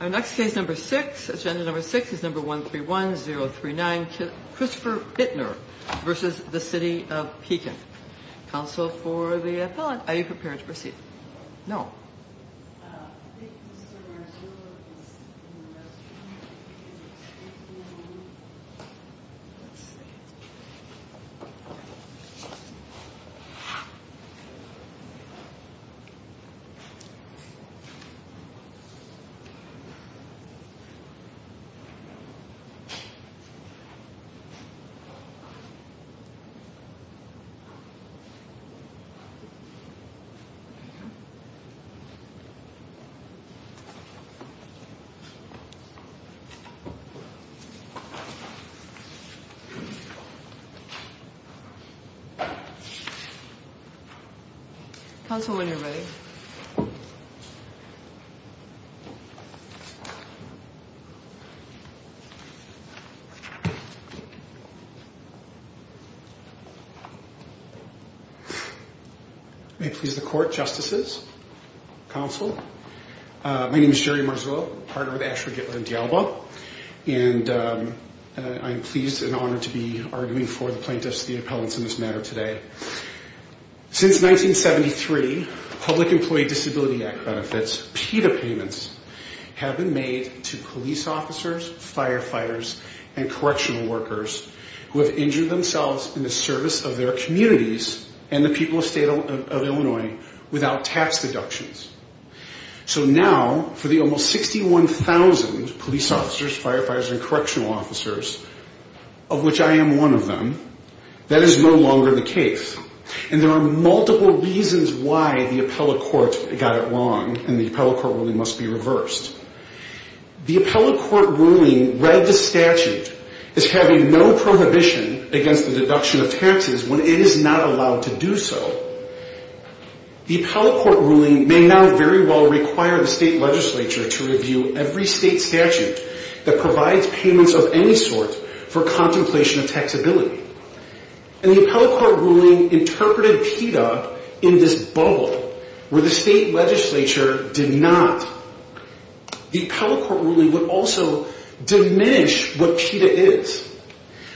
Our next case number six, agenda number six is number 131039 Christopher Bittner v. City of Pekin Council for the appellate, are you prepared to proceed? Councilwoman, are you ready? May it please the court, justices, council. My name is Jerry Marzullo, partner with Asher Gitler and D'Alba, and I'm pleased and honored to be arguing for the plaintiffs and the appellants in this matter today. Since 1973, Public Employee Disability Act benefits, PETA payments, have been made to police officers, firefighters, and correctional workers who have injured themselves in the service of their communities and the people of the state of Illinois without tax deductions. So now, for the almost 61,000 police officers, firefighters, and correctional officers, of which I am one of them, that is no longer the case. And there are multiple reasons why the appellate court got it wrong and the appellate court ruling must be reversed. The appellate court ruling read the statute as having no prohibition against the deduction of taxes when it is not allowed to do so. The appellate court ruling may now very well require the state legislature to review every state statute that provides payments of any sort for contemplation of taxability. And the appellate court ruling interpreted PETA in this bubble where the state legislature did not. The appellate court ruling would also diminish what PETA is,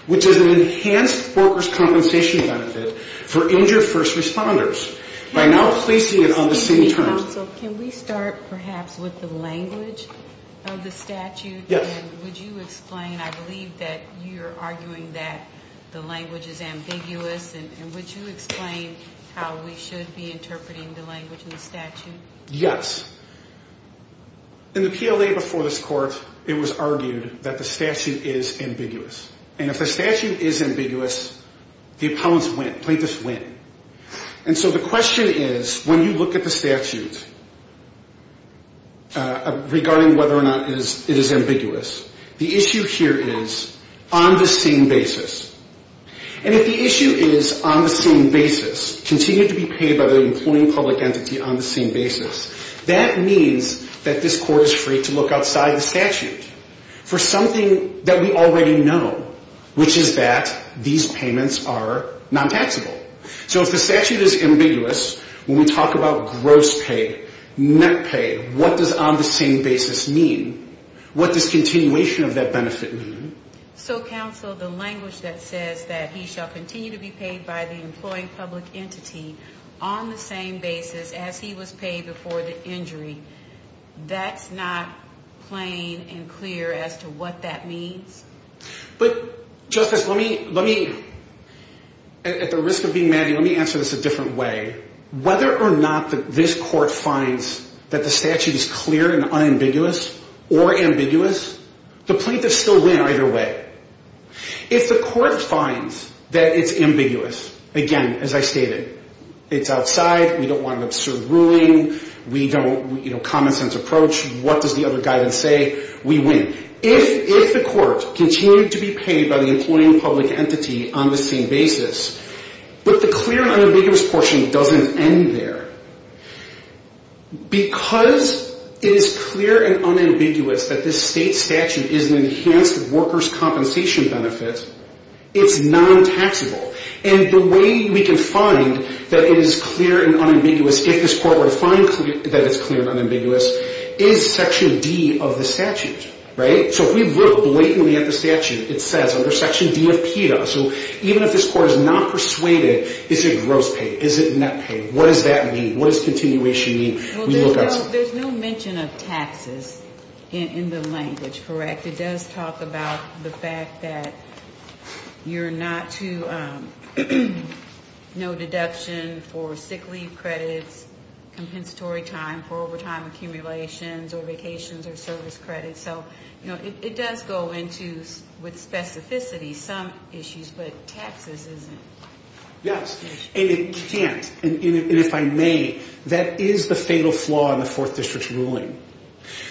which is an enhanced workers' compensation benefit for injured first responders by now placing it on the same terms. So can we start perhaps with the language of the statute? Yes. And would you explain? I believe that you're arguing that the language is ambiguous. And would you explain how we should be interpreting the language in the statute? Yes. In the PLA before this court, it was argued that the statute is ambiguous. And if the statute is ambiguous, the appellants win. Plaintiffs win. And so the question is when you look at the statute regarding whether or not it is ambiguous, the issue here is on the same basis. And if the issue is on the same basis, continue to be paid by the employing public entity on the same basis, that means that this court is free to look outside the statute for something that we already know, which is that these payments are non-taxable. So if the statute is ambiguous, when we talk about gross pay, net pay, what does on the same basis mean? What does continuation of that benefit mean? So, counsel, the language that says that he shall continue to be paid by the employing public entity on the same basis as he was paid before the injury, that's not plain and clear as to what that means? But, Justice, let me, at the risk of being mad at you, let me answer this a different way. Whether or not this court finds that the statute is clear and unambiguous or ambiguous, the plaintiffs still win either way. If the court finds that it's ambiguous, again, as I stated, it's outside, we don't want an absurd ruling, we don't, you know, common sense approach, what does the other guidance say? We win. If the court continued to be paid by the employing public entity on the same basis, but the clear and unambiguous portion doesn't end there, because it is clear and unambiguous that this state statute is an enhanced workers' compensation benefit, it's non-taxable. And the way we can find that it is clear and unambiguous, if this court were to find that it's clear and unambiguous, is Section D of the statute, right? So if we look blatantly at the statute, it says under Section D of PETA, so even if this court is not persuaded, is it gross pay? Is it net pay? What does that mean? What does continuation mean? Well, there's no mention of taxes in the language, correct? It does talk about the fact that you're not to know deduction for sick leave credits, compensatory time for overtime accumulations or vacations or service credits. So it does go into, with specificity, some issues, but taxes isn't. Yes. And it can't. And if I may, that is the fatal flaw in the Fourth District's ruling.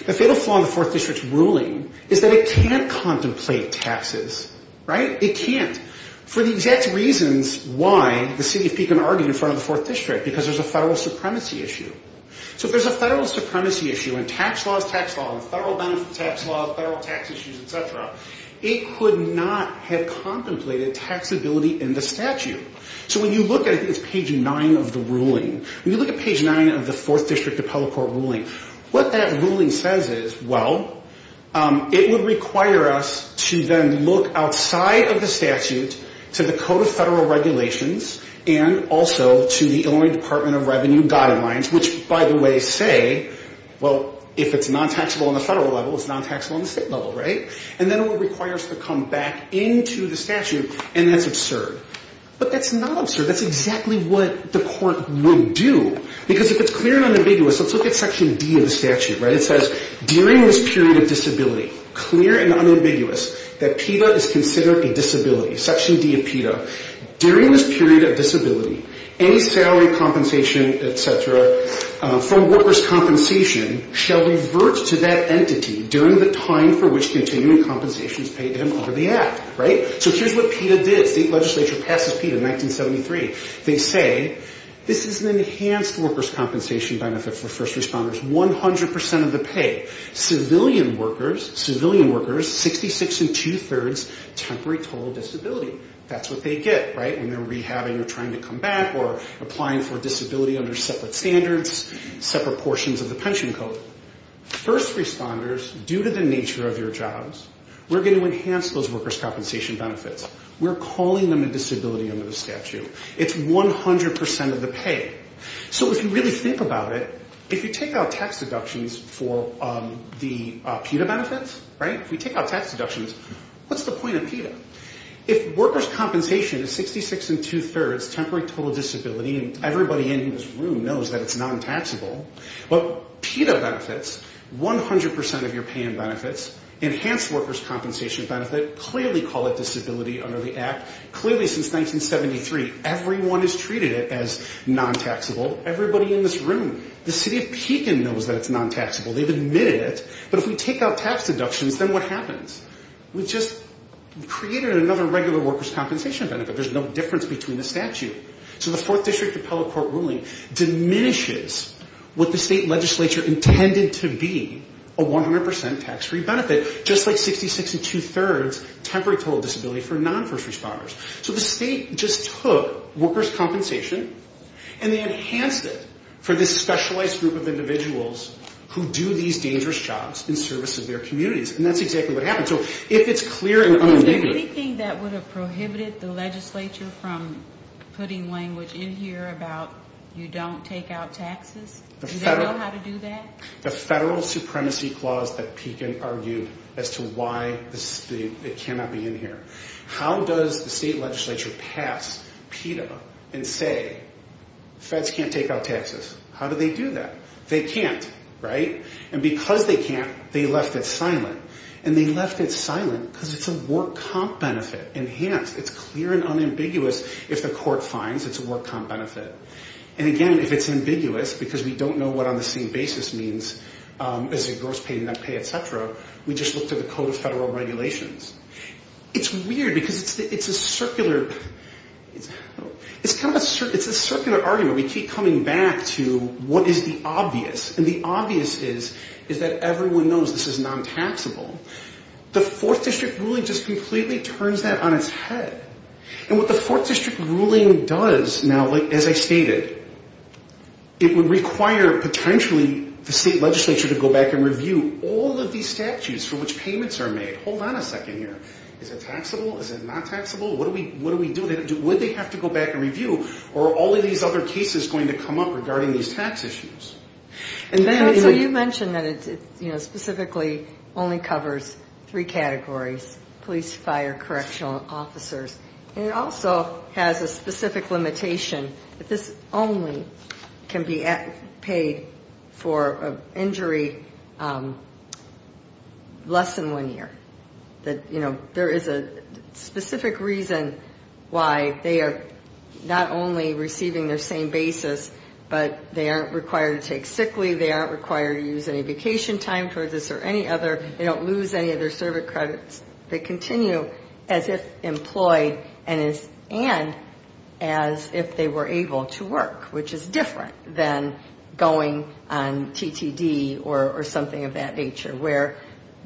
The fatal flaw in the Fourth District's ruling is that it can't contemplate taxes, right? It can't. For the exact reasons why the city of Pekin argued in front of the Fourth District, because there's a federal supremacy issue. So if there's a federal supremacy issue in tax laws, tax laws, federal benefit tax laws, federal tax issues, et cetera, it could not have contemplated taxability in the statute. So when you look at it, it's page 9 of the ruling. When you look at page 9 of the Fourth District Appellate Court ruling, what that ruling says is, well, it would require us to then look outside of the revenue guidelines, which, by the way, say, well, if it's non-taxable on the federal level, it's non-taxable on the state level, right? And then it would require us to come back into the statute, and that's absurd. But that's not absurd. That's exactly what the court would do. Because if it's clear and unambiguous, let's look at Section D of the statute, right? It says, during this period of disability, clear and unambiguous, that PETA is considered a disability, Section D of PETA. During this period of disability, any salary compensation, et cetera, from workers' compensation shall revert to that entity during the time for which continuing compensation is paid to them under the Act, right? So here's what PETA did. State legislature passes PETA in 1973. They say, this is an enhanced workers' compensation benefit for first responders, 100 percent of the pay. Civilian workers, 66 and two-thirds, temporary total disability. That's what they get, right, when they're rehabbing or trying to come back or applying for a disability under separate standards, separate portions of the pension code. First responders, due to the nature of your jobs, we're going to enhance those workers' compensation benefits. We're calling them a disability under the statute. It's 100 percent of the pay. So if you really think about it, if you take out tax deductions for the PETA benefits, right, if you take out tax deductions, what's the point of PETA? If workers' compensation is 66 and two-thirds, temporary total disability, and everybody in this room knows that it's non-taxable, well, PETA benefits, 100 percent of your pay in benefits, enhanced workers' compensation benefit, clearly call it disability under the Act. Clearly since 1973, everyone has treated it as non-taxable. Everybody in this room, the city of Pekin knows that it's non-taxable. They've admitted it. But if we take out tax deductions, then what happens? We've just created another regular workers' compensation benefit. There's no difference between the statute. So the Fourth District Appellate Court ruling diminishes what the state legislature intended to be, a 100 percent tax-free benefit, just like 66 and two-thirds temporary total disability for non-first responders. So the state just took workers' compensation and they enhanced it for this specialized group of individuals who do these dangerous jobs in service of their communities. And that's exactly what happened. So if it's clear and unambiguous. Is there anything that would have prohibited the legislature from putting language in here about you don't take out taxes? Do they know how to do that? The federal supremacy clause that Pekin argued as to why it cannot be in here. How does the state legislature pass PETA and say, feds can't take out taxes? How do they do that? They can't, right? And because they can't, they left it silent. And they left it silent because it's a work comp benefit. Enhanced. It's clear and unambiguous. If the court finds, it's a work comp benefit. And, again, if it's ambiguous because we don't know what on the same basis means, is it gross pay, net pay, et cetera, we just look through the Code of Federal Regulations. It's weird because it's a circular argument. We keep coming back to what is the obvious. And the obvious is that everyone knows this is non-taxable. The Fourth District ruling just completely turns that on its head. And what the Fourth District ruling does now, as I stated, it would require potentially the state legislature to go back and review all of these statutes for which payments are made. Hold on a second here. Is it taxable? Is it not taxable? What do we do? Would they have to go back and review? Or are all of these other cases going to come up regarding these tax issues? So you mentioned that it specifically only covers three categories, police, fire, correctional officers. And it also has a specific limitation. This only can be paid for an injury less than one year. There is a specific reason why they are not only receiving their same basis, but they aren't required to take sick leave. They aren't required to use any vacation time for this or any other. They don't lose any of their service credits. They continue as if employed and as if they were able to work, which is different than going on TTD or something of that nature, where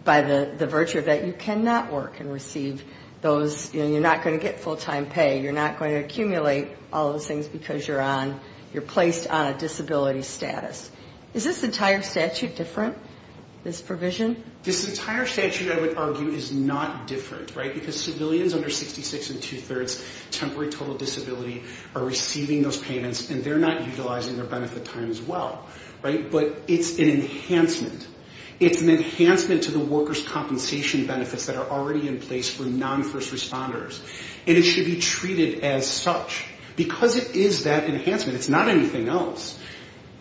by the virtue of that, you cannot work and receive those. You're not going to get full-time pay. You're not going to accumulate all those things because you're placed on a disability status. Is this entire statute different, this provision? This entire statute, I would argue, is not different, right, because civilians under 66 and two-thirds, temporary total disability, are receiving those payments, and they're not utilizing their benefit time as well. But it's an enhancement. It's an enhancement to the workers' compensation benefits that are already in place for non-first responders, and it should be treated as such. Because it is that enhancement, it's not anything else.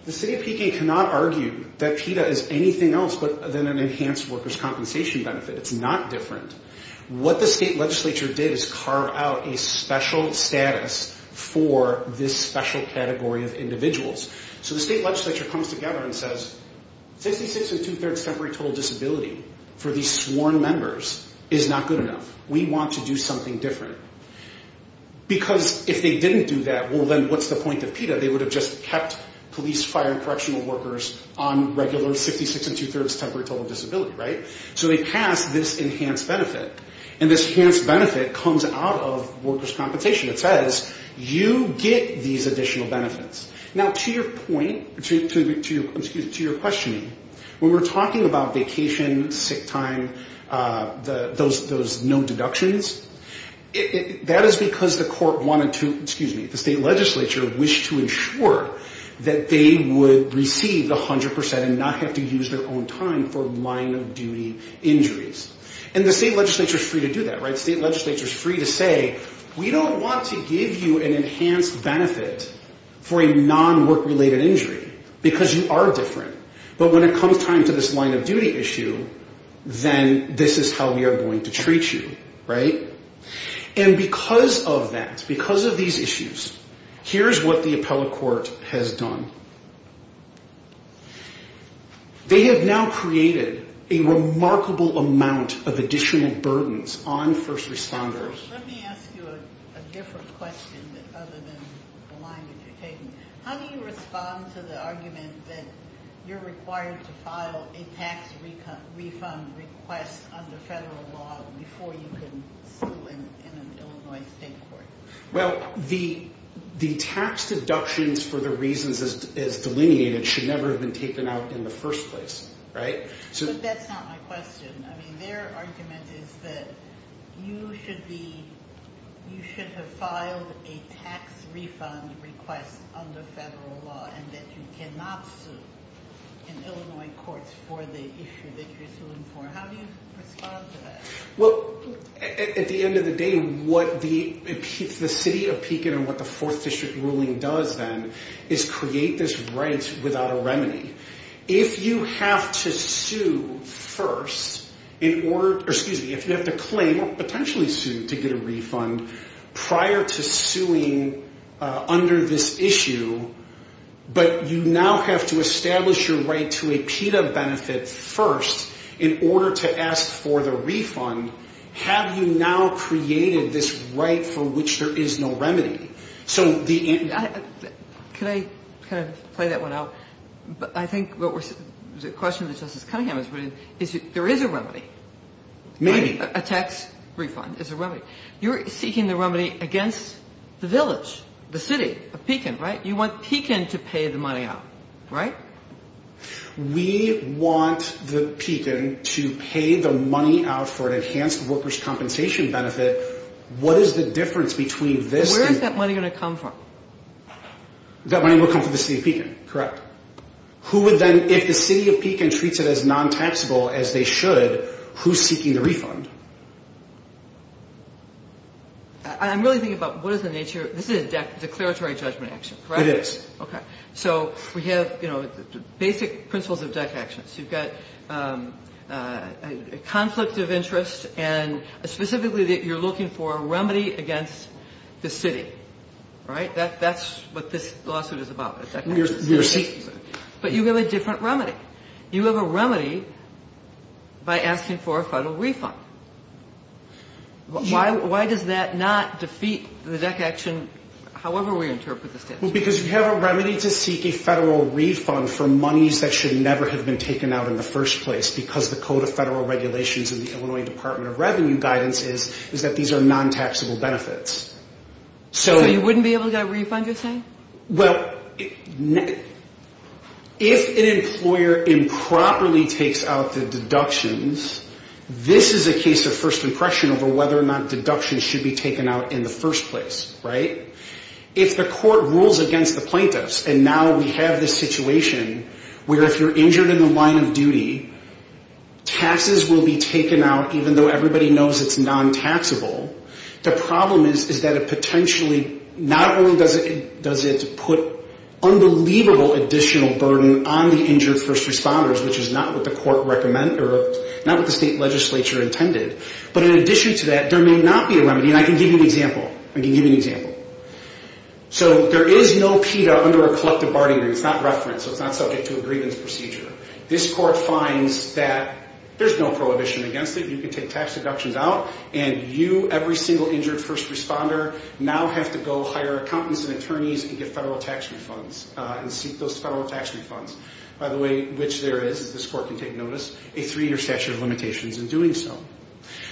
The city of Pekin cannot argue that PETA is anything else but then an enhanced workers' compensation benefit. It's not different. What the state legislature did is carve out a special status for this special category of individuals. So the state legislature comes together and says, 66 and two-thirds temporary total disability for these sworn members is not good enough. We want to do something different. Because if they didn't do that, well, then what's the point of PETA? They would have just kept police, fire, and correctional workers on regular 66 and two-thirds temporary total disability, right? So they passed this enhanced benefit, and this enhanced benefit comes out of workers' compensation. It says, you get these additional benefits. Now, to your point, to your questioning, when we're talking about vacation, sick time, those no deductions, that is because the court wanted to, excuse me, the state legislature wished to ensure that they would receive 100% and not have to use their own time for line-of-duty injuries. And the state legislature is free to do that, right? The state legislature is free to say, we don't want to give you an enhanced benefit for a non-work-related injury because you are different. But when it comes time to this line-of-duty issue, then this is how we are going to treat you, right? And because of that, because of these issues, here's what the appellate court has done. They have now created a remarkable amount of additional burdens on first responders. Let me ask you a different question other than the line that you're taking. How do you respond to the argument that you're required to file a tax refund request under federal law before you can sue in an Illinois state court? Well, the tax deductions for the reasons as delineated should never have been taken out in the first place, right? But that's not my question. I mean, their argument is that you should have filed a tax refund request under federal law and that you cannot sue in Illinois courts for the issue that you're suing for. How do you respond to that? Well, at the end of the day, what the city of Pekin and what the 4th District ruling does then is create this right without a remedy. If you have to claim or potentially sue to get a refund prior to suing under this issue, but you now have to establish your right to a PETA benefit first in order to ask for the refund, have you now created this right for which there is no remedy? Can I kind of play that one out? I think the question that Justice Cunningham is putting is there is a remedy. Maybe. A tax refund is a remedy. You're seeking the remedy against the village, the city of Pekin, right? You want Pekin to pay the money out, right? We want the Pekin to pay the money out for an enhanced workers' compensation benefit. What is the difference between this? Where is that money going to come from? That money will come from the city of Pekin, correct? Who would then, if the city of Pekin treats it as non-taxable as they should, who's seeking the refund? I'm really thinking about what is the nature. This is a declaratory judgment action, correct? It is. Okay. So we have basic principles of DEC actions. You've got a conflict of interest and specifically that you're looking for a remedy against the city, right? That's what this lawsuit is about. But you have a different remedy. You have a remedy by asking for a federal refund. Why does that not defeat the DEC action however we interpret the statute? Well, because you have a remedy to seek a federal refund for monies that should never have been taken out in the first place because the code of federal regulations in the Illinois Department of Revenue guidance is that these are non-taxable benefits. So you wouldn't be able to get a refund, you're saying? Well, if an employer improperly takes out the deductions, this is a case of first impression over whether or not deductions should be taken out in the first place, right? If the court rules against the plaintiffs and now we have this situation where if you're injured in the line of duty, taxes will be taken out even though everybody knows it's non-taxable. The problem is that it potentially not only does it put unbelievable additional burden on the injured first responders, which is not what the court recommend or not what the state legislature intended, but in addition to that, there may not be a remedy. I mean, I can give you an example. I can give you an example. So there is no PETA under a collective bargaining agreement. It's not referenced, so it's not subject to a grievance procedure. This court finds that there's no prohibition against it. You can take tax deductions out and you, every single injured first responder, now have to go hire accountants and attorneys and get federal tax refunds and seek those federal tax refunds, by the way, which there is, as this court can take notice, a three-year statute of limitations in doing so.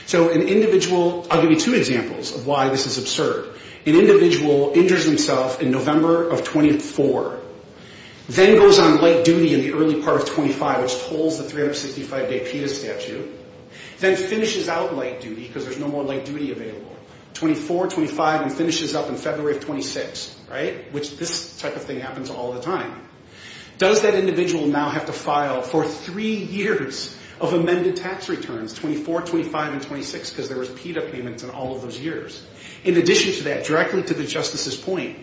So an individual, I'll give you two examples of why this is absurd. An individual injures himself in November of 24, then goes on late duty in the early part of 25, which tolls the 365-day PETA statute, then finishes out late duty because there's no more late duty available, 24, 25, and finishes up in February of 26, right, which this type of thing happens all the time. Does that individual now have to file for three years of amended tax returns, 24, 25, and 26, because there was PETA payments in all of those years? In addition to that, directly to the justice's point,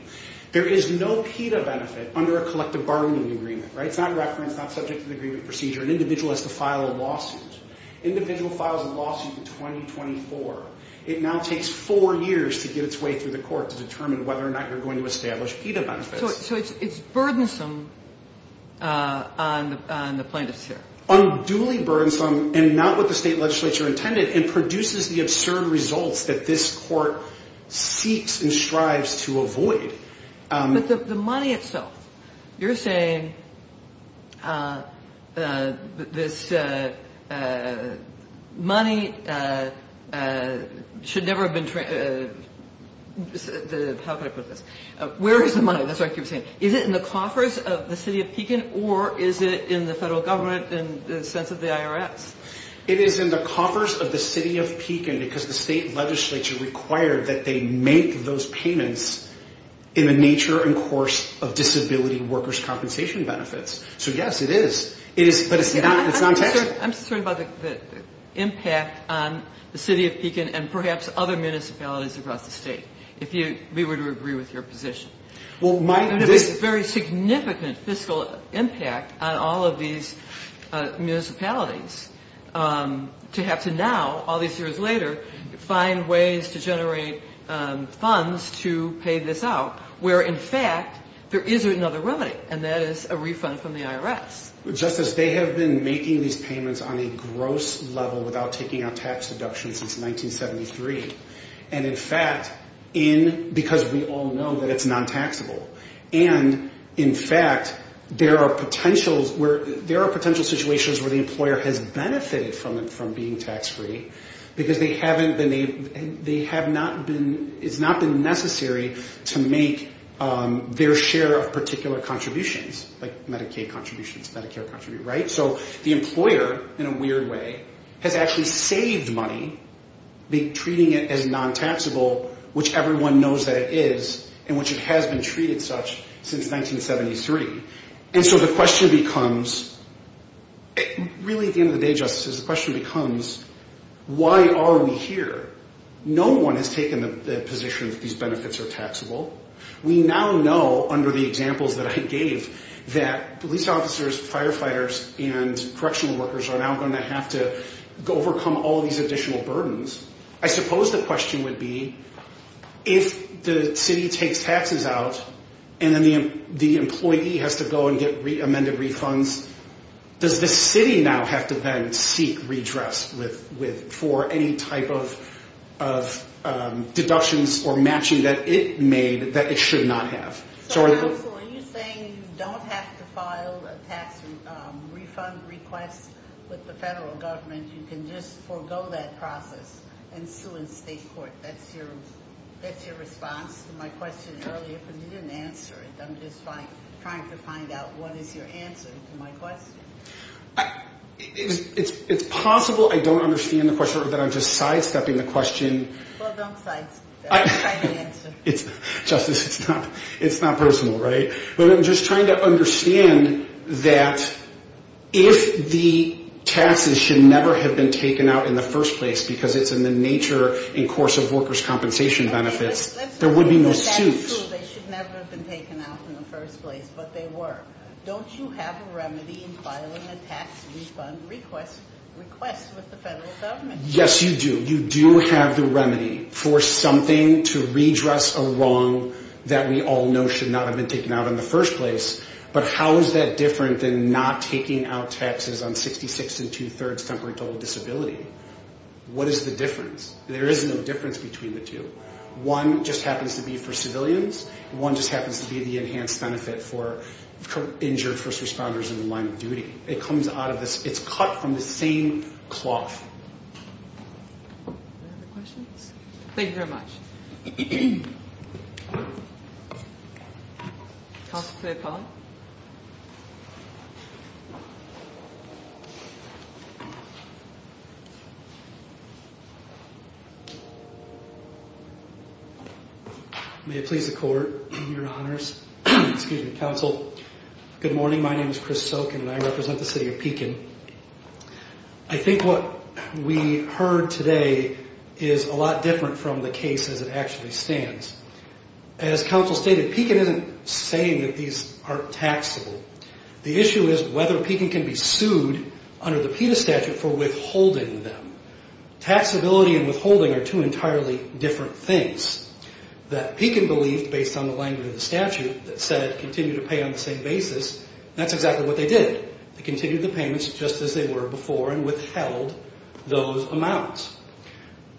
there is no PETA benefit under a collective bargaining agreement, right? It's not referenced, not subject to the agreement procedure. An individual has to file a lawsuit. Individual files a lawsuit in 2024. It now takes four years to get its way through the court to determine whether or not you're going to establish PETA benefits. So it's burdensome on the plaintiffs here. Unduly burdensome, and not what the state legislature intended, and produces the absurd results that this court seeks and strives to avoid. But the money itself, you're saying this money should never have been – how can I put this? Where is the money? That's what I keep saying. Is it in the coffers of the city of Pekin, or is it in the federal government in the sense of the IRS? It is in the coffers of the city of Pekin, because the state legislature required that they make those payments in the nature and course of disability workers' compensation benefits. So, yes, it is. But it's non-taxable. I'm concerned about the impact on the city of Pekin and perhaps other municipalities across the state. If we were to agree with your position. There's a very significant fiscal impact on all of these municipalities to have to now, all these years later, find ways to generate funds to pay this out, where in fact there is another remedy, and that is a refund from the IRS. Justice, they have been making these payments on a gross level without taking out tax deductions since 1973. And, in fact, because we all know that it's non-taxable. And, in fact, there are potential situations where the employer has benefited from being tax-free, because it's not been necessary to make their share of particular contributions, like Medicaid contributions, Medicare contributions, right? So the employer, in a weird way, has actually saved money by treating it as non-taxable, which everyone knows that it is, and which it has been treated such since 1973. And so the question becomes, really at the end of the day, Justice, the question becomes, why are we here? No one has taken the position that these benefits are taxable. We now know, under the examples that I gave, that police officers, firefighters, and correctional workers are now going to have to overcome all these additional burdens. I suppose the question would be, if the city takes taxes out, and then the employee has to go and get amended refunds, does the city now have to then seek redress for any type of deductions or matching that it made that it should not have? So are you saying you don't have to file a tax refund request with the federal government? You can just forego that process and sue in state court? That's your response to my question earlier, but you didn't answer it. I'm just trying to find out what is your answer to my question. It's possible I don't understand the question or that I'm just sidestepping the question. Well, don't sidestep. Try to answer. Justice, it's not personal, right? But I'm just trying to understand that if the taxes should never have been taken out in the first place because it's in the nature and course of workers' compensation benefits, there would be no suit. It's true they should never have been taken out in the first place, but they were. Don't you have a remedy in filing a tax refund request with the federal government? Yes, you do. You do have the remedy for something to redress a wrong that we all know should not have been taken out in the first place. But how is that different than not taking out taxes on 66 and two-thirds temporary total disability? What is the difference? There is no difference between the two. One just happens to be for civilians. One just happens to be the enhanced benefit for injured first responders in the line of duty. It comes out of this. It's cut from the same cloth. Any other questions? Thank you very much. Counsel for the appellant? May it please the Court, Your Honors. Excuse me, Counsel. Good morning. My name is Chris Sokin, and I represent the city of Pekin. I think what we heard today is a lot different from the case as it actually stands. As Counsel stated, Pekin isn't saying that these aren't taxable. The issue is whether Pekin can be sued under the PETA statute for withholding them. Taxability and withholding are two entirely different things that Pekin believed based on the language of the statute that said continue to pay on the same basis, and that's exactly what they did. They continued the payments just as they were before and withheld those amounts.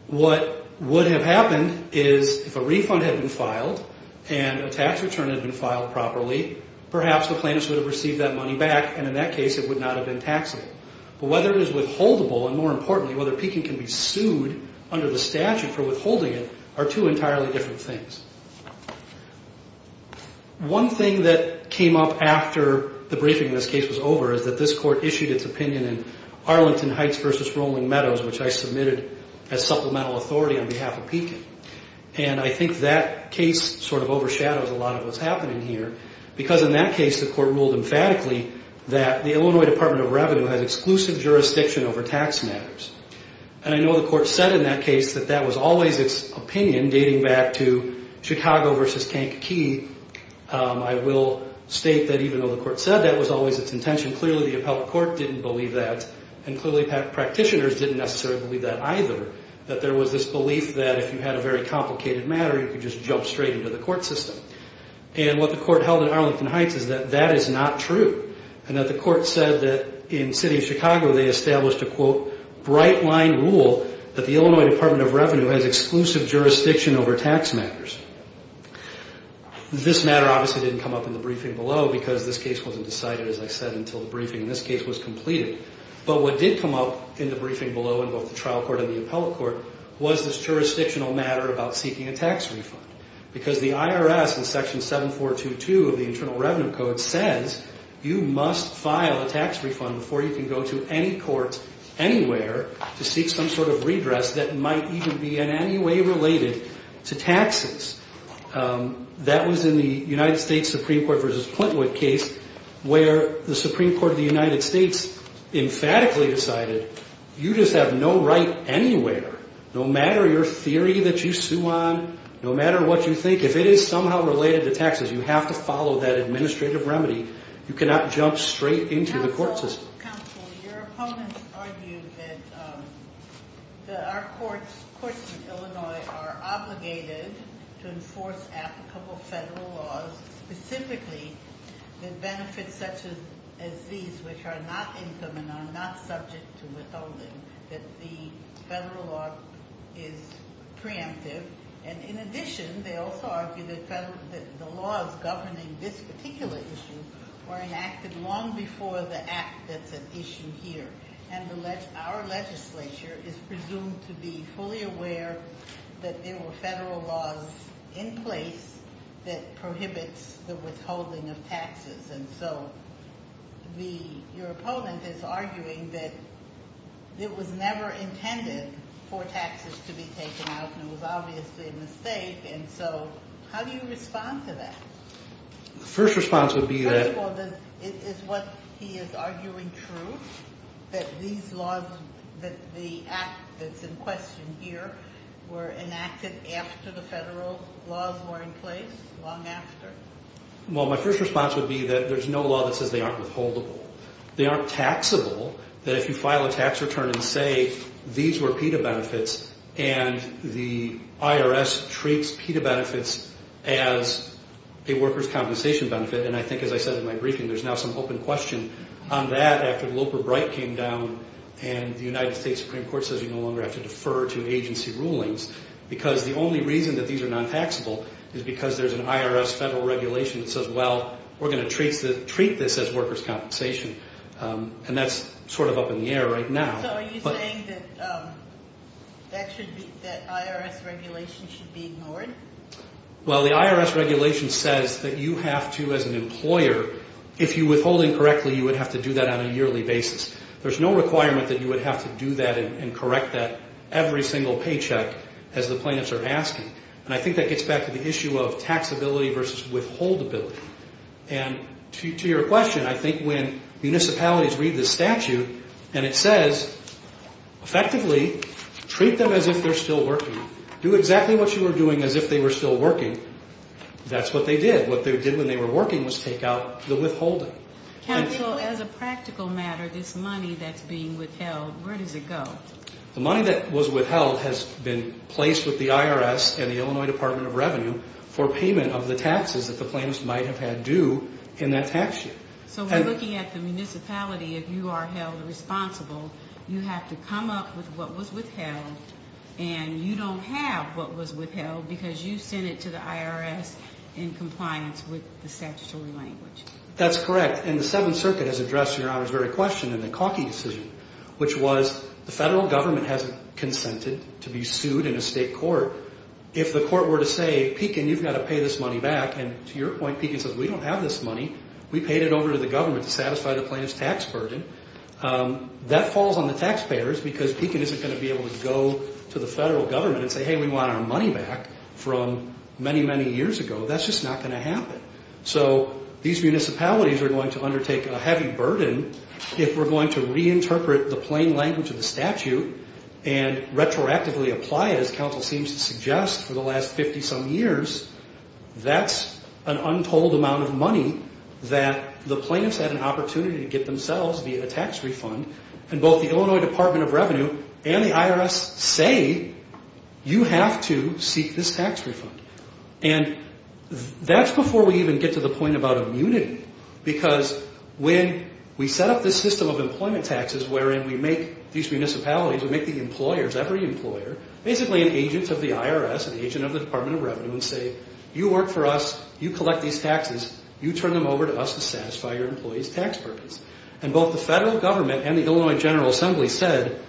What would have happened is if a refund had been filed and a tax return had been filed properly, perhaps the plaintiffs would have received that money back, and in that case it would not have been taxable. But whether it is withholdable and, more importantly, whether Pekin can be sued under the statute for withholding it are two entirely different things. One thing that came up after the briefing in this case was over is that this Court issued its opinion in Arlington Heights v. Rolling Meadows, which I submitted as supplemental authority on behalf of Pekin. And I think that case sort of overshadows a lot of what's happening here because in that case the Court ruled emphatically that the Illinois Department of Revenue has exclusive jurisdiction over tax matters. And I know the Court said in that case that that was always its opinion, dating back to Chicago v. Kankakee. I will state that even though the Court said that was always its intention, clearly the appellate court didn't believe that, and clearly practitioners didn't necessarily believe that either, that there was this belief that if you had a very complicated matter, you could just jump straight into the court system. And what the Court held in Arlington Heights is that that is not true and that the Court said that in the city of Chicago they established a quote, bright-line rule that the Illinois Department of Revenue has exclusive jurisdiction over tax matters. This matter obviously didn't come up in the briefing below because this case wasn't decided, as I said, until the briefing in this case was completed. But what did come up in the briefing below in both the trial court and the appellate court was this jurisdictional matter about seeking a tax refund because the IRS in Section 7422 of the Internal Revenue Code says you must file a tax refund before you can go to any court anywhere to seek some sort of redress that might even be in any way related to taxes. That was in the United States Supreme Court v. Plintwood case where the Supreme Court of the United States emphatically decided you just have no right anywhere, no matter your theory that you sue on, no matter what you think, if it is somehow related to taxes, you have to follow that administrative remedy. You cannot jump straight into the court system. Counsel, your opponents argued that our courts in Illinois are obligated to enforce applicable federal laws, specifically the benefits such as these, which are not income and are not subject to withholding, that the federal law is preemptive. And in addition, they also argue that the laws governing this particular issue were enacted long before the act that's at issue here. And our legislature is presumed to be fully aware that there were federal laws in place that prohibits the withholding of taxes. And so your opponent is arguing that it was never intended for taxes to be taken out and it was obviously a mistake. And so how do you respond to that? The first response would be that— First of all, is what he is arguing true, that these laws, that the act that's in question here were enacted after the federal laws were in place, long after? Well, my first response would be that there's no law that says they aren't withholdable. They aren't taxable, that if you file a tax return and say these were PETA benefits and the IRS treats PETA benefits as a workers' compensation benefit, and I think as I said in my briefing, there's now some open question on that after Loper Bright came down and the United States Supreme Court says you no longer have to defer to agency rulings, because the only reason that these are non-taxable is because there's an IRS federal regulation that says, well, we're going to treat this as workers' compensation. And that's sort of up in the air right now. So are you saying that that IRS regulation should be ignored? Well, the IRS regulation says that you have to, as an employer, if you withhold incorrectly, you would have to do that on a yearly basis. There's no requirement that you would have to do that and correct that every single paycheck as the plaintiffs are asking. And I think that gets back to the issue of taxability versus withholdability. And to your question, I think when municipalities read this statute and it says effectively treat them as if they're still working, do exactly what you were doing as if they were still working, that's what they did. What they did when they were working was take out the withholding. Counsel, as a practical matter, this money that's being withheld, where does it go? The money that was withheld has been placed with the IRS and the Illinois Department of Revenue for payment of the taxes that the plaintiffs might have had due in that tax sheet. So we're looking at the municipality. If you are held responsible, you have to come up with what was withheld and you don't have what was withheld because you sent it to the IRS in compliance with the statutory language. That's correct. And the Seventh Circuit has addressed Your Honor's very question in the Kauke decision, which was the federal government hasn't consented to be sued in a state court. If the court were to say, Pekin, you've got to pay this money back, and to your point, Pekin says we don't have this money. We paid it over to the government to satisfy the plaintiff's tax burden. That falls on the taxpayers because Pekin isn't going to be able to go to the federal government and say, hey, we want our money back from many, many years ago. That's just not going to happen. So these municipalities are going to undertake a heavy burden if we're going to reinterpret the plain language of the statute and retroactively apply it, as counsel seems to suggest, for the last 50-some years. That's an untold amount of money that the plaintiffs had an opportunity to get themselves via a tax refund, and both the Illinois Department of Revenue and the IRS say you have to seek this tax refund. And that's before we even get to the point about immunity because when we set up this system of employment taxes wherein we make these municipalities, we make the employers, every employer, basically an agent of the IRS, an agent of the Department of Revenue, and say you work for us, you collect these taxes, you turn them over to us to satisfy your employees' tax burdens. And both the federal government and the Illinois General Assembly said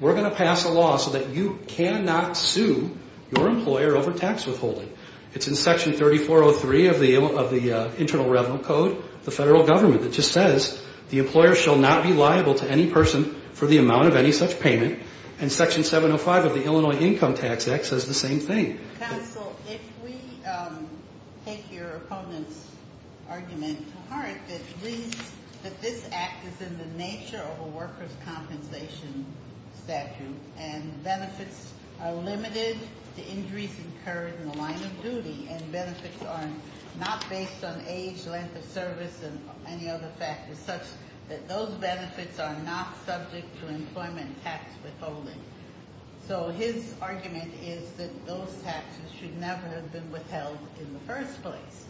we're going to pass a law so that you cannot sue your employer over tax withholding. It's in Section 3403 of the Internal Revenue Code, the federal government, that just says the employer shall not be liable to any person for the amount of any such payment, and Section 705 of the Illinois Income Tax Act says the same thing. Counsel, if we take your opponent's argument to heart, that this act is in the nature of a workers' compensation statute and benefits are limited to injuries incurred in the line of duty and benefits are not based on age, length of service, and any other factors such that those benefits are not subject to employment tax withholding. So his argument is that those taxes should never have been withheld in the first place.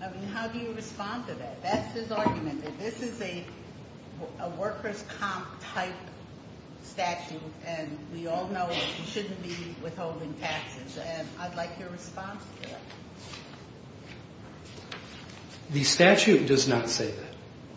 I mean, how do you respond to that? That's his argument, that this is a workers' comp-type statute, and we all know that we shouldn't be withholding taxes, and I'd like your response to that. The statute does not say that.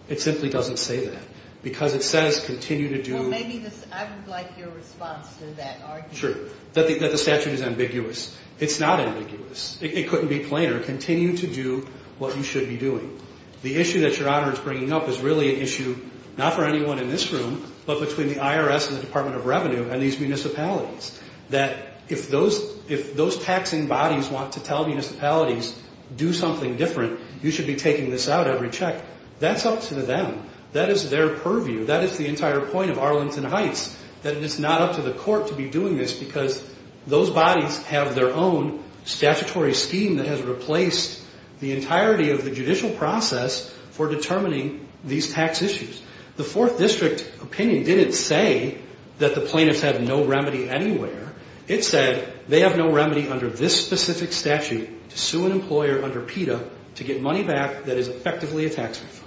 It simply doesn't say that, because it says continue to do- Well, maybe I would like your response to that argument. Sure, that the statute is ambiguous. It's not ambiguous. It couldn't be plainer. Continue to do what you should be doing. The issue that Your Honor is bringing up is really an issue not for anyone in this room, but between the IRS and the Department of Revenue and these municipalities, that if those taxing bodies want to tell municipalities do something different, you should be taking this out every check. That's up to them. That is their purview. That is the entire point of Arlington Heights, that it is not up to the court to be doing this because those bodies have their own statutory scheme that has replaced the entirety of the judicial process for determining these tax issues. The Fourth District opinion didn't say that the plaintiffs have no remedy anywhere. It said they have no remedy under this specific statute to sue an employer under PETA to get money back that is effectively a tax refund.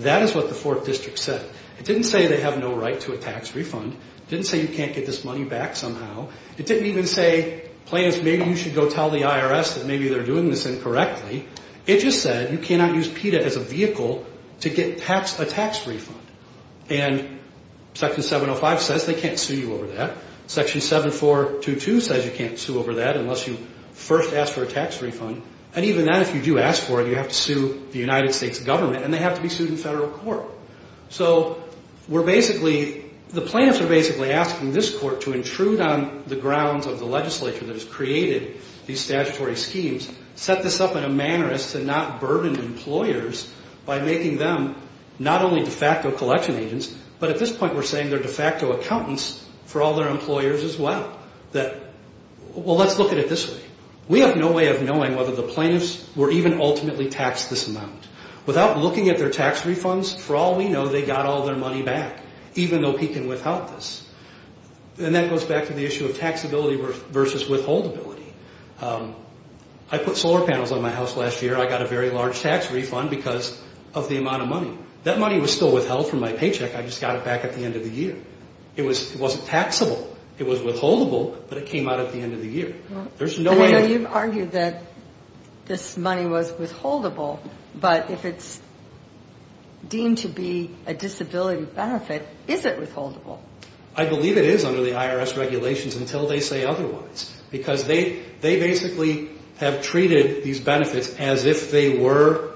That is what the Fourth District said. It didn't say they have no right to a tax refund. It didn't say you can't get this money back somehow. It didn't even say, plaintiffs, maybe you should go tell the IRS that maybe they're doing this incorrectly. It just said you cannot use PETA as a vehicle to get a tax refund. And Section 705 says they can't sue you over that. Section 7422 says you can't sue over that unless you first ask for a tax refund. And even then, if you do ask for it, you have to sue the United States government, and they have to be sued in federal court. So we're basically, the plaintiffs are basically asking this court to intrude on the grounds of the legislature that has created these statutory schemes, set this up in a manner as to not burden employers by making them not only de facto collection agents, but at this point we're saying they're de facto accountants for all their employers as well. Well, let's look at it this way. We have no way of knowing whether the plaintiffs were even ultimately taxed this amount. Without looking at their tax refunds, for all we know, they got all their money back, even though he can withhold this. And that goes back to the issue of taxability versus withholdability. I put solar panels on my house last year. I got a very large tax refund because of the amount of money. That money was still withheld from my paycheck. I just got it back at the end of the year. It wasn't taxable. It was withholdable, but it came out at the end of the year. There's no way... I know you've argued that this money was withholdable, but if it's deemed to be a disability benefit, is it withholdable? I believe it is under the IRS regulations until they say otherwise because they basically have treated these benefits as if they were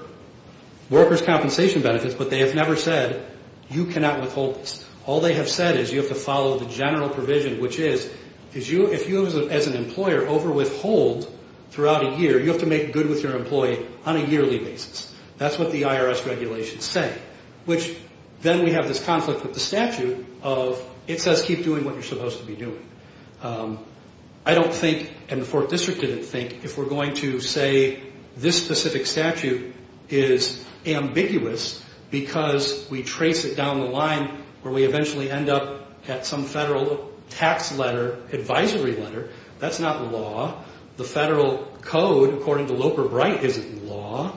workers' compensation benefits, but they have never said you cannot withhold this. All they have said is you have to follow the general provision, which is if you, as an employer, overwithhold throughout a year, you have to make good with your employee on a yearly basis. That's what the IRS regulations say, which then we have this conflict with the statute of it says keep doing what you're supposed to be doing. I don't think, and the 4th District didn't think, if we're going to say this specific statute is ambiguous because we trace it down the line where we eventually end up at some federal tax letter, advisory letter, that's not law. The federal code, according to Loper-Bright, isn't law.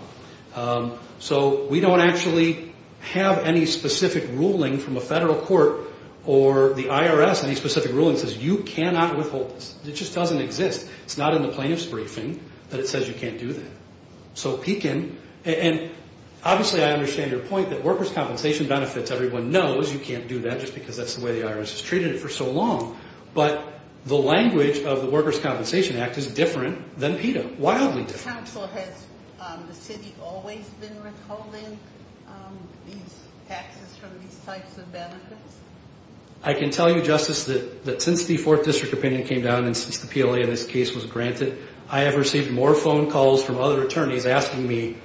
So we don't actually have any specific ruling from a federal court or the IRS. Any specific ruling says you cannot withhold this. It just doesn't exist. It's not in the plaintiff's briefing that it says you can't do that. So Pekin, and obviously I understand your point that workers' compensation benefits, everyone knows you can't do that just because that's the way the IRS has treated it for so long, but the language of the Workers' Compensation Act is different than PETA, wildly different. Has the city always been withholding these taxes from these types of benefits? I can tell you, Justice, that since the 4th District opinion came down and since the PLA in this case was granted, I have received more phone calls from other attorneys asking me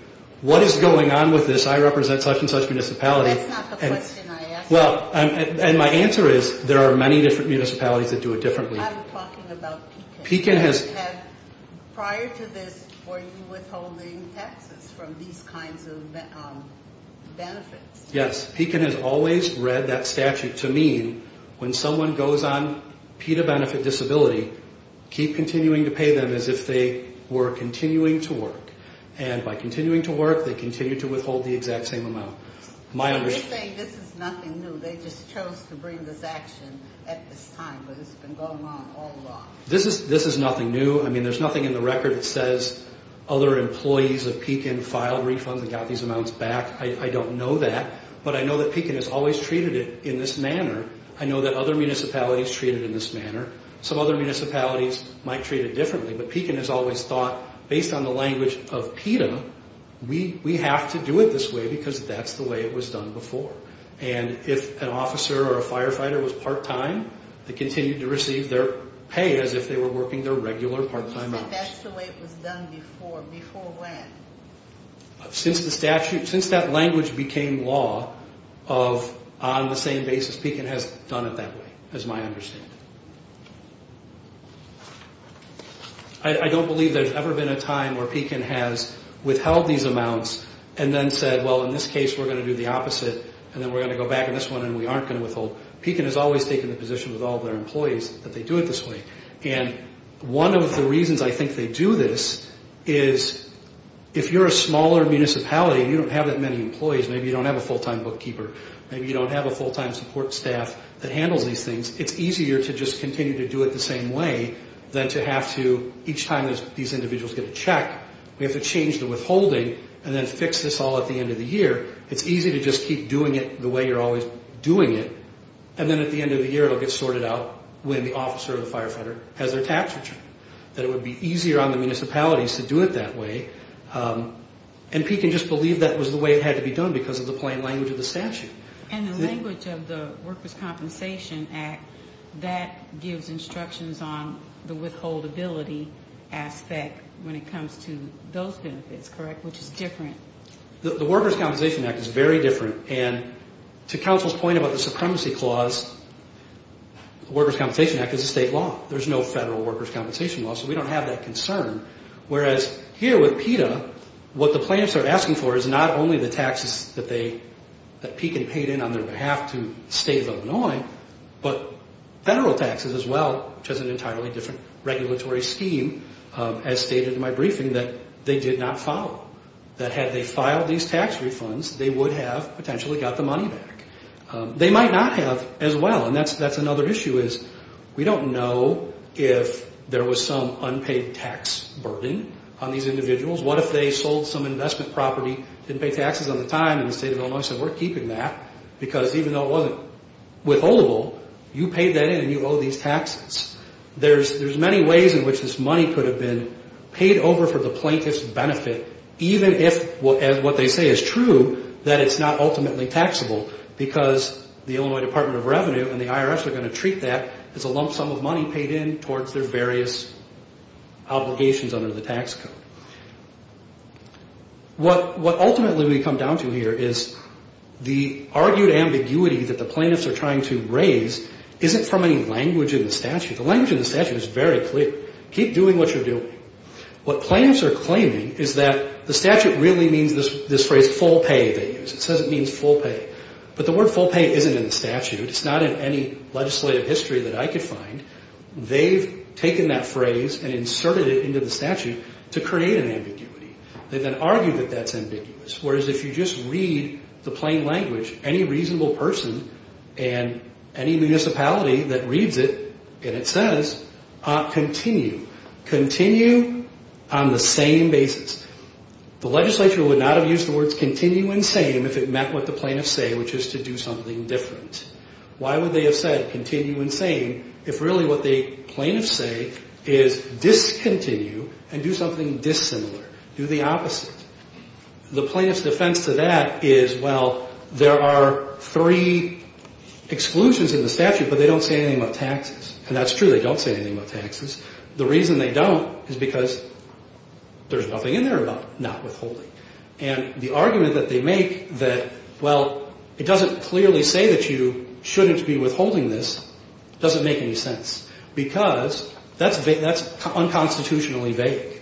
what is going on with this. I represent such and such municipality. That's not the question I asked. Well, and my answer is there are many different municipalities that do it differently. I'm talking about Pekin. Prior to this, were you withholding taxes from these kinds of benefits? Pekin has always read that statute to mean when someone goes on PETA benefit disability, keep continuing to pay them as if they were continuing to work. And by continuing to work, they continue to withhold the exact same amount. So you're saying this is nothing new. They just chose to bring this action at this time, but it's been going on all along. This is nothing new. I mean, there's nothing in the record that says other employees of Pekin filed refunds and got these amounts back. I don't know that, but I know that Pekin has always treated it in this manner. I know that other municipalities treat it in this manner. Some other municipalities might treat it differently, but Pekin has always thought based on the language of PETA, we have to do it this way because that's the way it was done before. And if an officer or a firefighter was part-time, they continued to receive their pay as if they were working their regular part-time hours. You said that's the way it was done before. Before when? Since the statute, since that language became law of on the same basis, Pekin has done it that way as my understanding. I don't believe there's ever been a time where Pekin has withheld these amounts and then said, well, in this case we're going to do the opposite and then we're going to go back on this one and we aren't going to withhold. Pekin has always taken the position with all of their employees that they do it this way. And one of the reasons I think they do this is if you're a smaller municipality and you don't have that many employees, maybe you don't have a full-time bookkeeper, maybe you don't have a full-time support staff that handles these things, it's easier to just continue to do it the same way than to have to, each time these individuals get a check, we have to change the withholding and then fix this all at the end of the year. It's easy to just keep doing it the way you're always doing it and then at the end of the year it will get sorted out when the officer or the firefighter has their tax return, that it would be easier on the municipalities to do it that way. And Pekin just believed that was the way it had to be done because of the plain language of the statute. And the language of the Workers' Compensation Act, that gives instructions on the withholdability aspect when it comes to those benefits, correct, which is different? The Workers' Compensation Act is very different. And to counsel's point about the supremacy clause, the Workers' Compensation Act is a state law. There's no federal workers' compensation law, so we don't have that concern. Whereas here with PETA, what the plaintiffs are asking for is not only the taxes that they, that Pekin paid in on their behalf to the state of Illinois, but federal taxes as well, which is an entirely different regulatory scheme, as stated in my briefing, that they did not follow. That had they filed these tax refunds, they would have potentially got the money back. They might not have as well, and that's another issue, is we don't know if there was some unpaid tax burden on these individuals. What if they sold some investment property, didn't pay taxes on the time, and the state of Illinois said we're keeping that because even though it wasn't withholdable, you paid that in and you owe these taxes. There's many ways in which this money could have been paid over for the plaintiff's benefit, even if what they say is true, that it's not ultimately taxable, because the Illinois Department of Revenue and the IRS are going to treat that as a lump sum of money paid in towards their various obligations under the tax code. What ultimately we come down to here is the argued ambiguity that the plaintiffs are trying to raise isn't from any language in the statute. The language in the statute is very clear. Keep doing what you're doing. What plaintiffs are claiming is that the statute really means this phrase full pay they use. It says it means full pay, but the word full pay isn't in the statute. It's not in any legislative history that I could find. They've taken that phrase and inserted it into the statute to create an ambiguity. They then argue that that's ambiguous, whereas if you just read the plain language, any reasonable person and any municipality that reads it, and it says continue. Continue on the same basis. The legislature would not have used the words continue and same if it meant what the plaintiffs say, which is to do something different. Why would they have said continue and same if really what the plaintiffs say is discontinue and do something dissimilar, do the opposite? The plaintiff's defense to that is, well, there are three exclusions in the statute, but they don't say anything about taxes, and that's true. They don't say anything about taxes. The reason they don't is because there's nothing in there about not withholding. And the argument that they make that, well, it doesn't clearly say that you shouldn't be withholding this doesn't make any sense because that's unconstitutionally vague.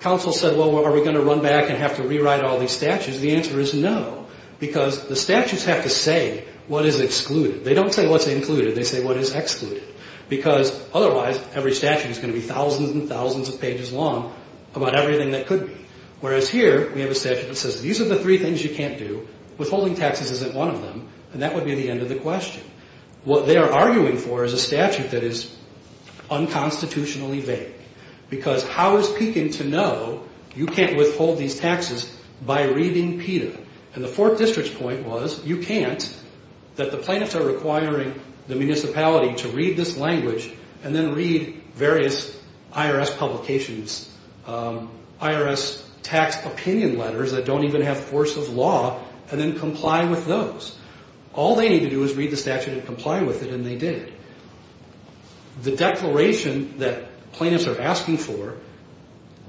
Counsel said, well, are we going to run back and have to rewrite all these statutes? The answer is no because the statutes have to say what is excluded. They don't say what's included. They say what is excluded because otherwise every statute is going to be thousands and thousands of pages long about everything that could be, whereas here we have a statute that says these are the three things you can't do. Withholding taxes isn't one of them, and that would be the end of the question. What they are arguing for is a statute that is unconstitutionally vague because how is Pekin to know you can't withhold these taxes by reading PETA? And the Fourth District's point was you can't, that the plaintiffs are requiring the municipality to read this language and then read various IRS publications, IRS tax opinion letters that don't even have force of law and then comply with those. All they need to do is read the statute and comply with it, and they did. The declaration that plaintiffs are asking for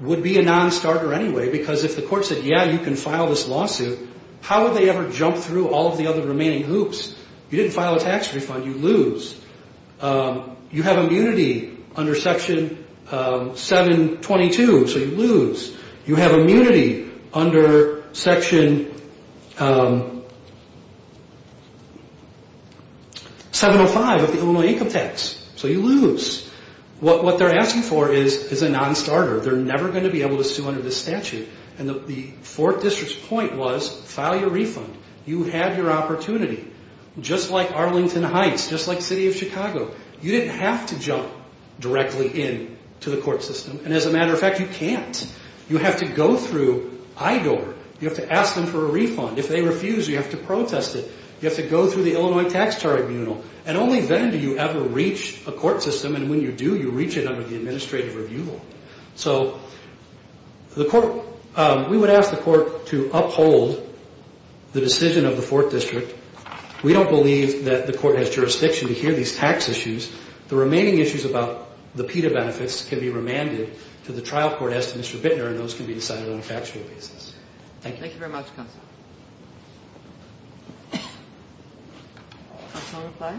would be a non-starter anyway because if the court said, yeah, you can file this lawsuit, how would they ever jump through all of the other remaining hoops? You didn't file a tax refund. You lose. You have immunity under Section 722, so you lose. You have immunity under Section 705 of the Illinois Income Tax, so you lose. What they're asking for is a non-starter. They're never going to be able to sue under this statute. And the Fourth District's point was file your refund. You have your opportunity. Just like Arlington Heights, just like the city of Chicago, you didn't have to jump directly into the court system. And as a matter of fact, you can't. You have to go through IDOR. You have to ask them for a refund. If they refuse, you have to protest it. You have to go through the Illinois Tax Tribunal, and only then do you ever reach a court system, and when you do, you reach it under the administrative review law. So we would ask the court to uphold the decision of the Fourth District. We don't believe that the court has jurisdiction to hear these tax issues. The remaining issues about the PETA benefits can be remanded to the trial court, as to Mr. Bittner, and those can be decided on a factual basis. Thank you. Thank you very much, counsel. Counsel will reply.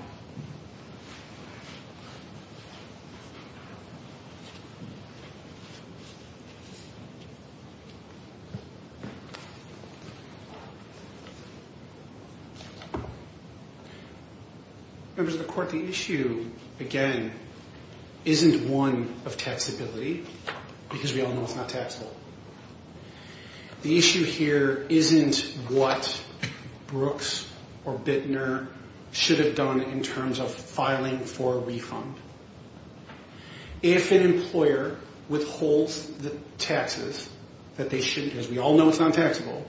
Members of the court, the issue, again, isn't one of taxability, because we all know it's not taxable. The issue here isn't what Brooks or Bittner should have done in terms of filing for a refund. If an employer withholds the taxes that they shouldn't, because we all know it's not taxable,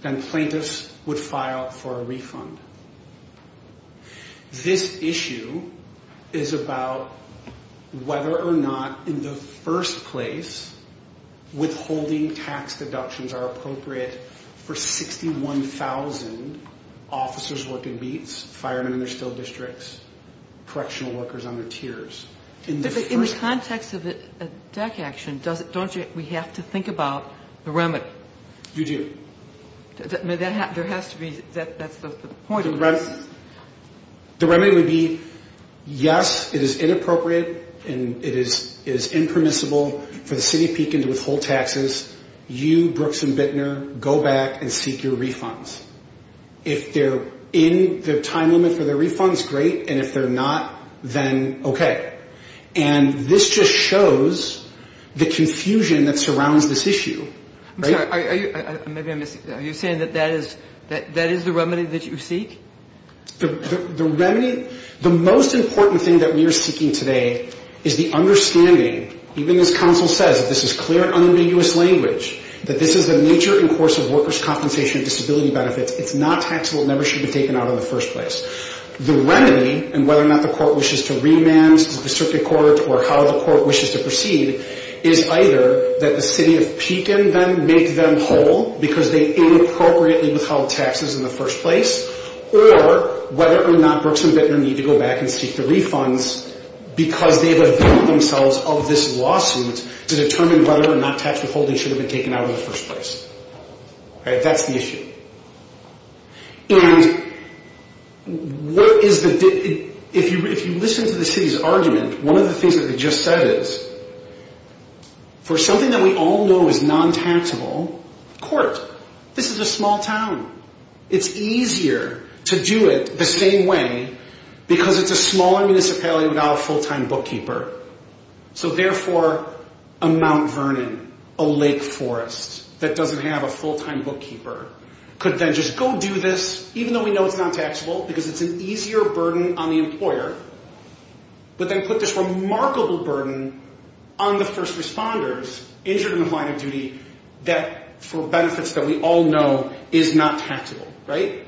then plaintiffs would file for a refund. This issue is about whether or not, in the first place, withholding tax deductions are appropriate for 61,000 officers working beats, firemen in their still districts, correctional workers on their tiers. In the context of a DAC action, don't we have to think about the remedy? You do. There has to be. That's the point of this. The remedy would be, yes, it is inappropriate and it is impermissible for the city of Pekin to withhold taxes. You, Brooks and Bittner, go back and seek your refunds. If they're in the time limit for their refunds, great, and if they're not, then okay. And this just shows the confusion that surrounds this issue. I'm sorry, are you saying that that is the remedy that you seek? The remedy, the most important thing that we are seeking today is the understanding, even as counsel says, that this is clear and unambiguous language, that this is the nature and course of workers' compensation and disability benefits. It's not taxable. It never should be taken out in the first place. The remedy, and whether or not the court wishes to remand the circuit court or how the court wishes to proceed, is either that the city of Pekin make them whole because they inappropriately withheld taxes in the first place, or whether or not Brooks and Bittner need to go back and seek the refunds because they've availed themselves of this lawsuit to determine whether or not tax withholding should have been taken out in the first place. That's the issue. And if you listen to the city's argument, one of the things that they just said is, for something that we all know is non-taxable, court. This is a small town. It's easier to do it the same way because it's a smaller municipality without a full-time bookkeeper. So therefore, a Mount Vernon, a lake forest that doesn't have a full-time bookkeeper could then just go do this, even though we know it's non-taxable because it's an easier burden on the employer, but then put this remarkable burden on the first responders injured in the line of duty that for benefits that we all know is not taxable, right?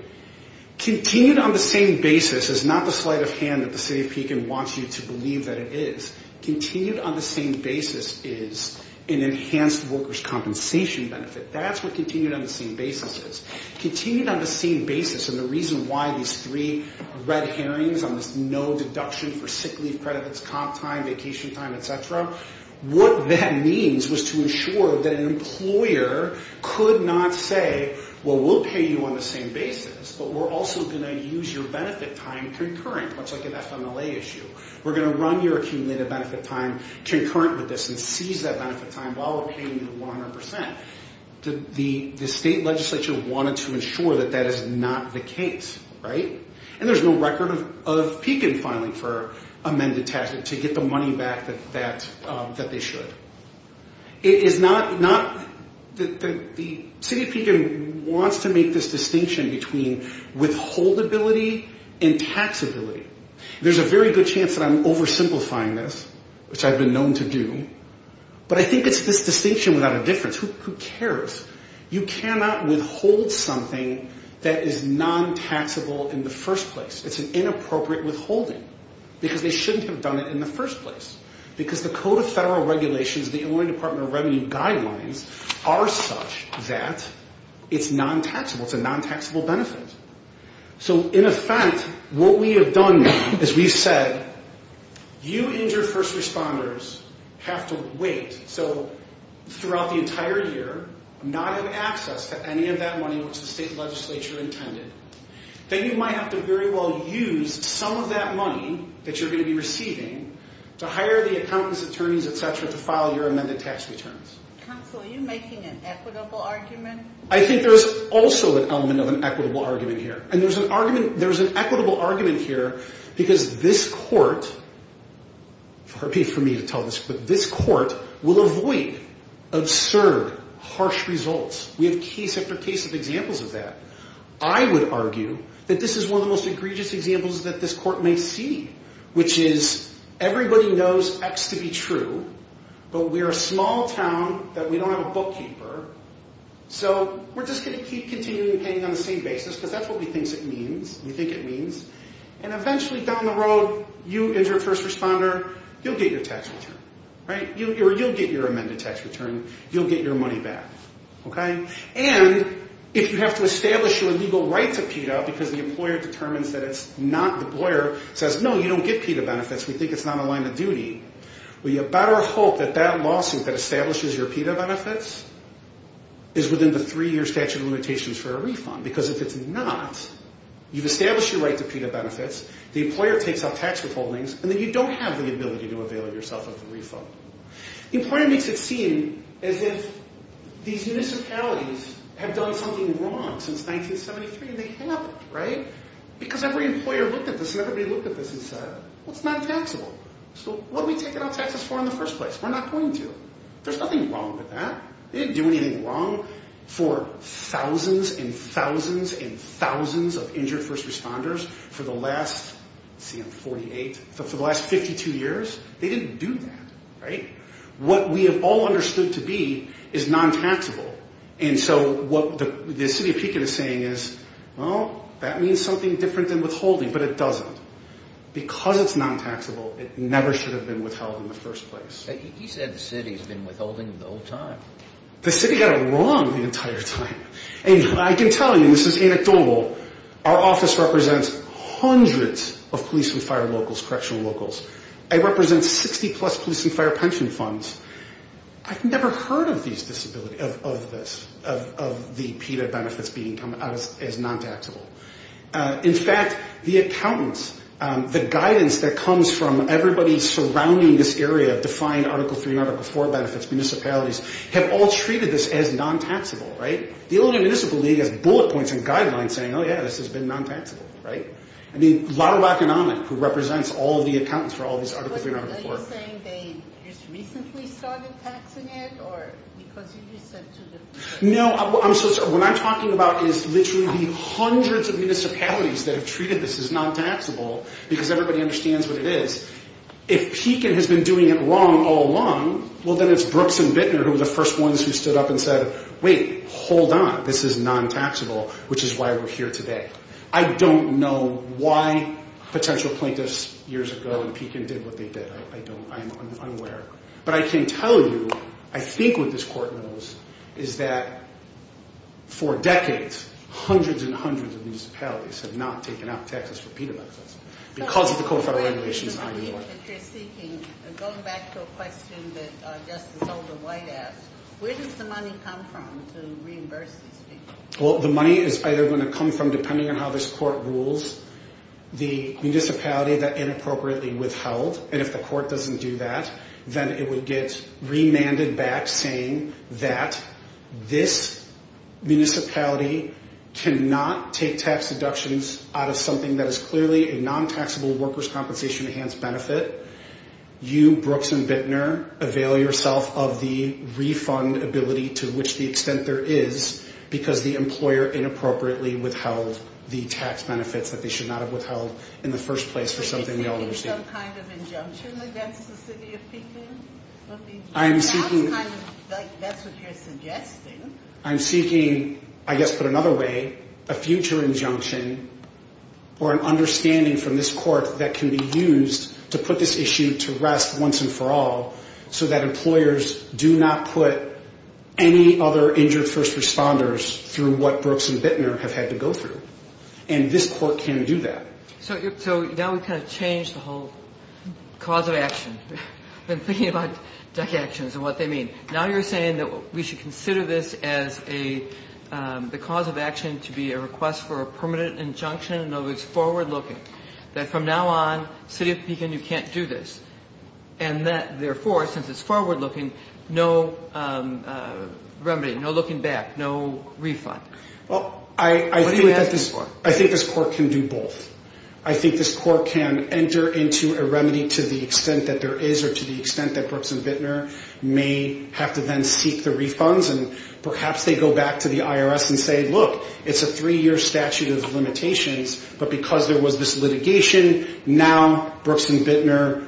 Continued on the same basis is not the sleight of hand that the city of Pekin wants you to believe that it is. Continued on the same basis is an enhanced workers' compensation benefit. That's what continued on the same basis is. Continued on the same basis, and the reason why these three red herrings on this no deduction for sick leave credits, comp time, vacation time, etc., what that means was to ensure that an employer could not say, well, we'll pay you on the same basis, but we're also going to use your benefit time concurrent, much like an FMLA issue. We're going to run your accumulated benefit time concurrent with this and seize that benefit time while we're paying you 100%. The state legislature wanted to ensure that that is not the case, right? And there's no record of Pekin filing for amended taxes to get the money back that they should. It is not that the city of Pekin wants to make this distinction between withholdability and taxability. There's a very good chance that I'm oversimplifying this, which I've been known to do, but I think it's this distinction without a difference. Who cares? You cannot withhold something that is non-taxable in the first place. It's an inappropriate withholding because they shouldn't have done it in the first place because the Code of Federal Regulations, the Illinois Department of Revenue guidelines, are such that it's non-taxable. It's a non-taxable benefit. So in effect, what we have done is we've said you and your first responders have to wait. So throughout the entire year, not have access to any of that money which the state legislature intended. Then you might have to very well use some of that money that you're going to be receiving to hire the accountants, attorneys, et cetera, to file your amended tax returns. Counsel, are you making an equitable argument? I think there's also an element of an equitable argument here. And there's an equitable argument here because this court, for me to tell this, but this court will avoid absurd, harsh results. We have case after case of examples of that. I would argue that this is one of the most egregious examples that this court may see, which is everybody knows X to be true, but we're a small town that we don't have a bookkeeper. So we're just going to keep continuing to pay on the same basis because that's what we think it means. And eventually down the road, you and your first responder, you'll get your tax return. You'll get your amended tax return. You'll get your money back. And if you have to establish your legal right to PETA because the employer determines that it's not, the employer says, no, you don't get PETA benefits, we think it's not a line of duty, we better hope that that lawsuit that establishes your PETA benefits is within the three-year statute of limitations for a refund. Because if it's not, you've established your right to PETA benefits, the employer takes out tax withholdings, and then you don't have the ability to avail yourself of the refund. The employer makes it seem as if these municipalities have done something wrong since 1973, and they haven't, right? Because every employer looked at this, and everybody looked at this and said, well, it's not taxable. So what are we taking out taxes for in the first place? We're not going to. There's nothing wrong with that. They didn't do anything wrong for thousands and thousands and thousands of injured first responders for the last, let's see, 48, for the last 52 years. They didn't do that, right? What we have all understood to be is non-taxable. And so what the city of Pekin is saying is, well, that means something different than withholding, but it doesn't. Because it's non-taxable, it never should have been withheld in the first place. You said the city has been withholding the whole time. The city got it wrong the entire time. And I can tell you, and this is anecdotal, our office represents hundreds of police and fire locals, correctional locals. It represents 60-plus police and fire pension funds. I've never heard of this, of the PETA benefits being as non-taxable. In fact, the accountants, the guidance that comes from everybody surrounding this area, defined Article 3 and Article 4 benefits, municipalities, have all treated this as non-taxable, right? The Illinois Municipal League has bullet points and guidelines saying, oh, yeah, this has been non-taxable, right? I mean, Lotto Economic, who represents all of the accountants for all of these Article 3 and Article 4. Are you saying they just recently started taxing it or because you just said to them? No, what I'm talking about is literally hundreds of municipalities that have treated this as non-taxable because everybody understands what it is. If Pekin has been doing it wrong all along, well, then it's Brooks and Bittner who were the first ones who stood up and said, wait, hold on. This is non-taxable, which is why we're here today. I don't know why potential plaintiffs years ago in Pekin did what they did. I'm unaware. But I can tell you, I think what this court knows is that for decades, hundreds and hundreds of municipalities have not taken out taxes for penal benefits because of the codified regulations in Illinois. Going back to a question that Justice Holden-White asked, where does the money come from to reimburse these people? Well, the money is either going to come from, depending on how this court rules, the municipality that inappropriately withheld. And if the court doesn't do that, then it would get remanded back saying that this municipality cannot take tax deductions out of something that is clearly a non-taxable workers' compensation enhanced benefit. You, Brooks and Bittner, avail yourself of the refund ability, to which the extent there is, because the employer inappropriately withheld the tax benefits that they should not have withheld in the first place for something they already received. Are you seeking some kind of injunction against the city of Pekin? I am seeking... That's what you're suggesting. I'm seeking, I guess put another way, a future injunction or an understanding from this court that can be used to put this issue to rest once and for all so that employers do not put any other injured first responders through what Brooks and Bittner have had to go through. And this court can do that. So now we've kind of changed the whole cause of action. I've been thinking about deductions and what they mean. Now you're saying that we should consider this as the cause of action to be a request for a permanent injunction, and that it's forward-looking. That from now on, city of Pekin, you can't do this. And that, therefore, since it's forward-looking, no remedy, no looking back, no refund. What are you asking for? I think this court can do both. I think this court can enter into a remedy to the extent that there is or to the extent that Brooks and Bittner may have to then seek the refunds. And perhaps they go back to the IRS and say, look, it's a three-year statute of limitations. But because there was this litigation, now Brooks and Bittner,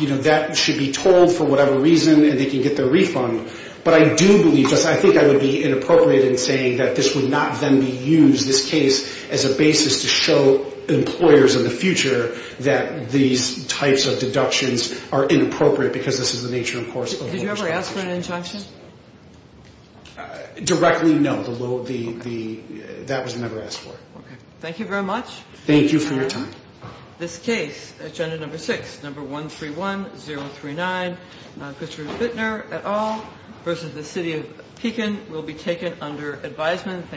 you know, that should be told for whatever reason, and they can get their refund. But I do believe this. I think I would be inappropriate in saying that this would not then be used, this case, as a basis to show employers in the future that these types of deductions are inappropriate because this is the nature, of course, of a large corporation. Did you ever ask for an injunction? Directly, no. That was never asked for. Okay. Thank you very much. Thank you for your time. This case, agenda number six, number 131039, not Christopher Bittner at all, versus the city of Pekin, will be taken under advisement.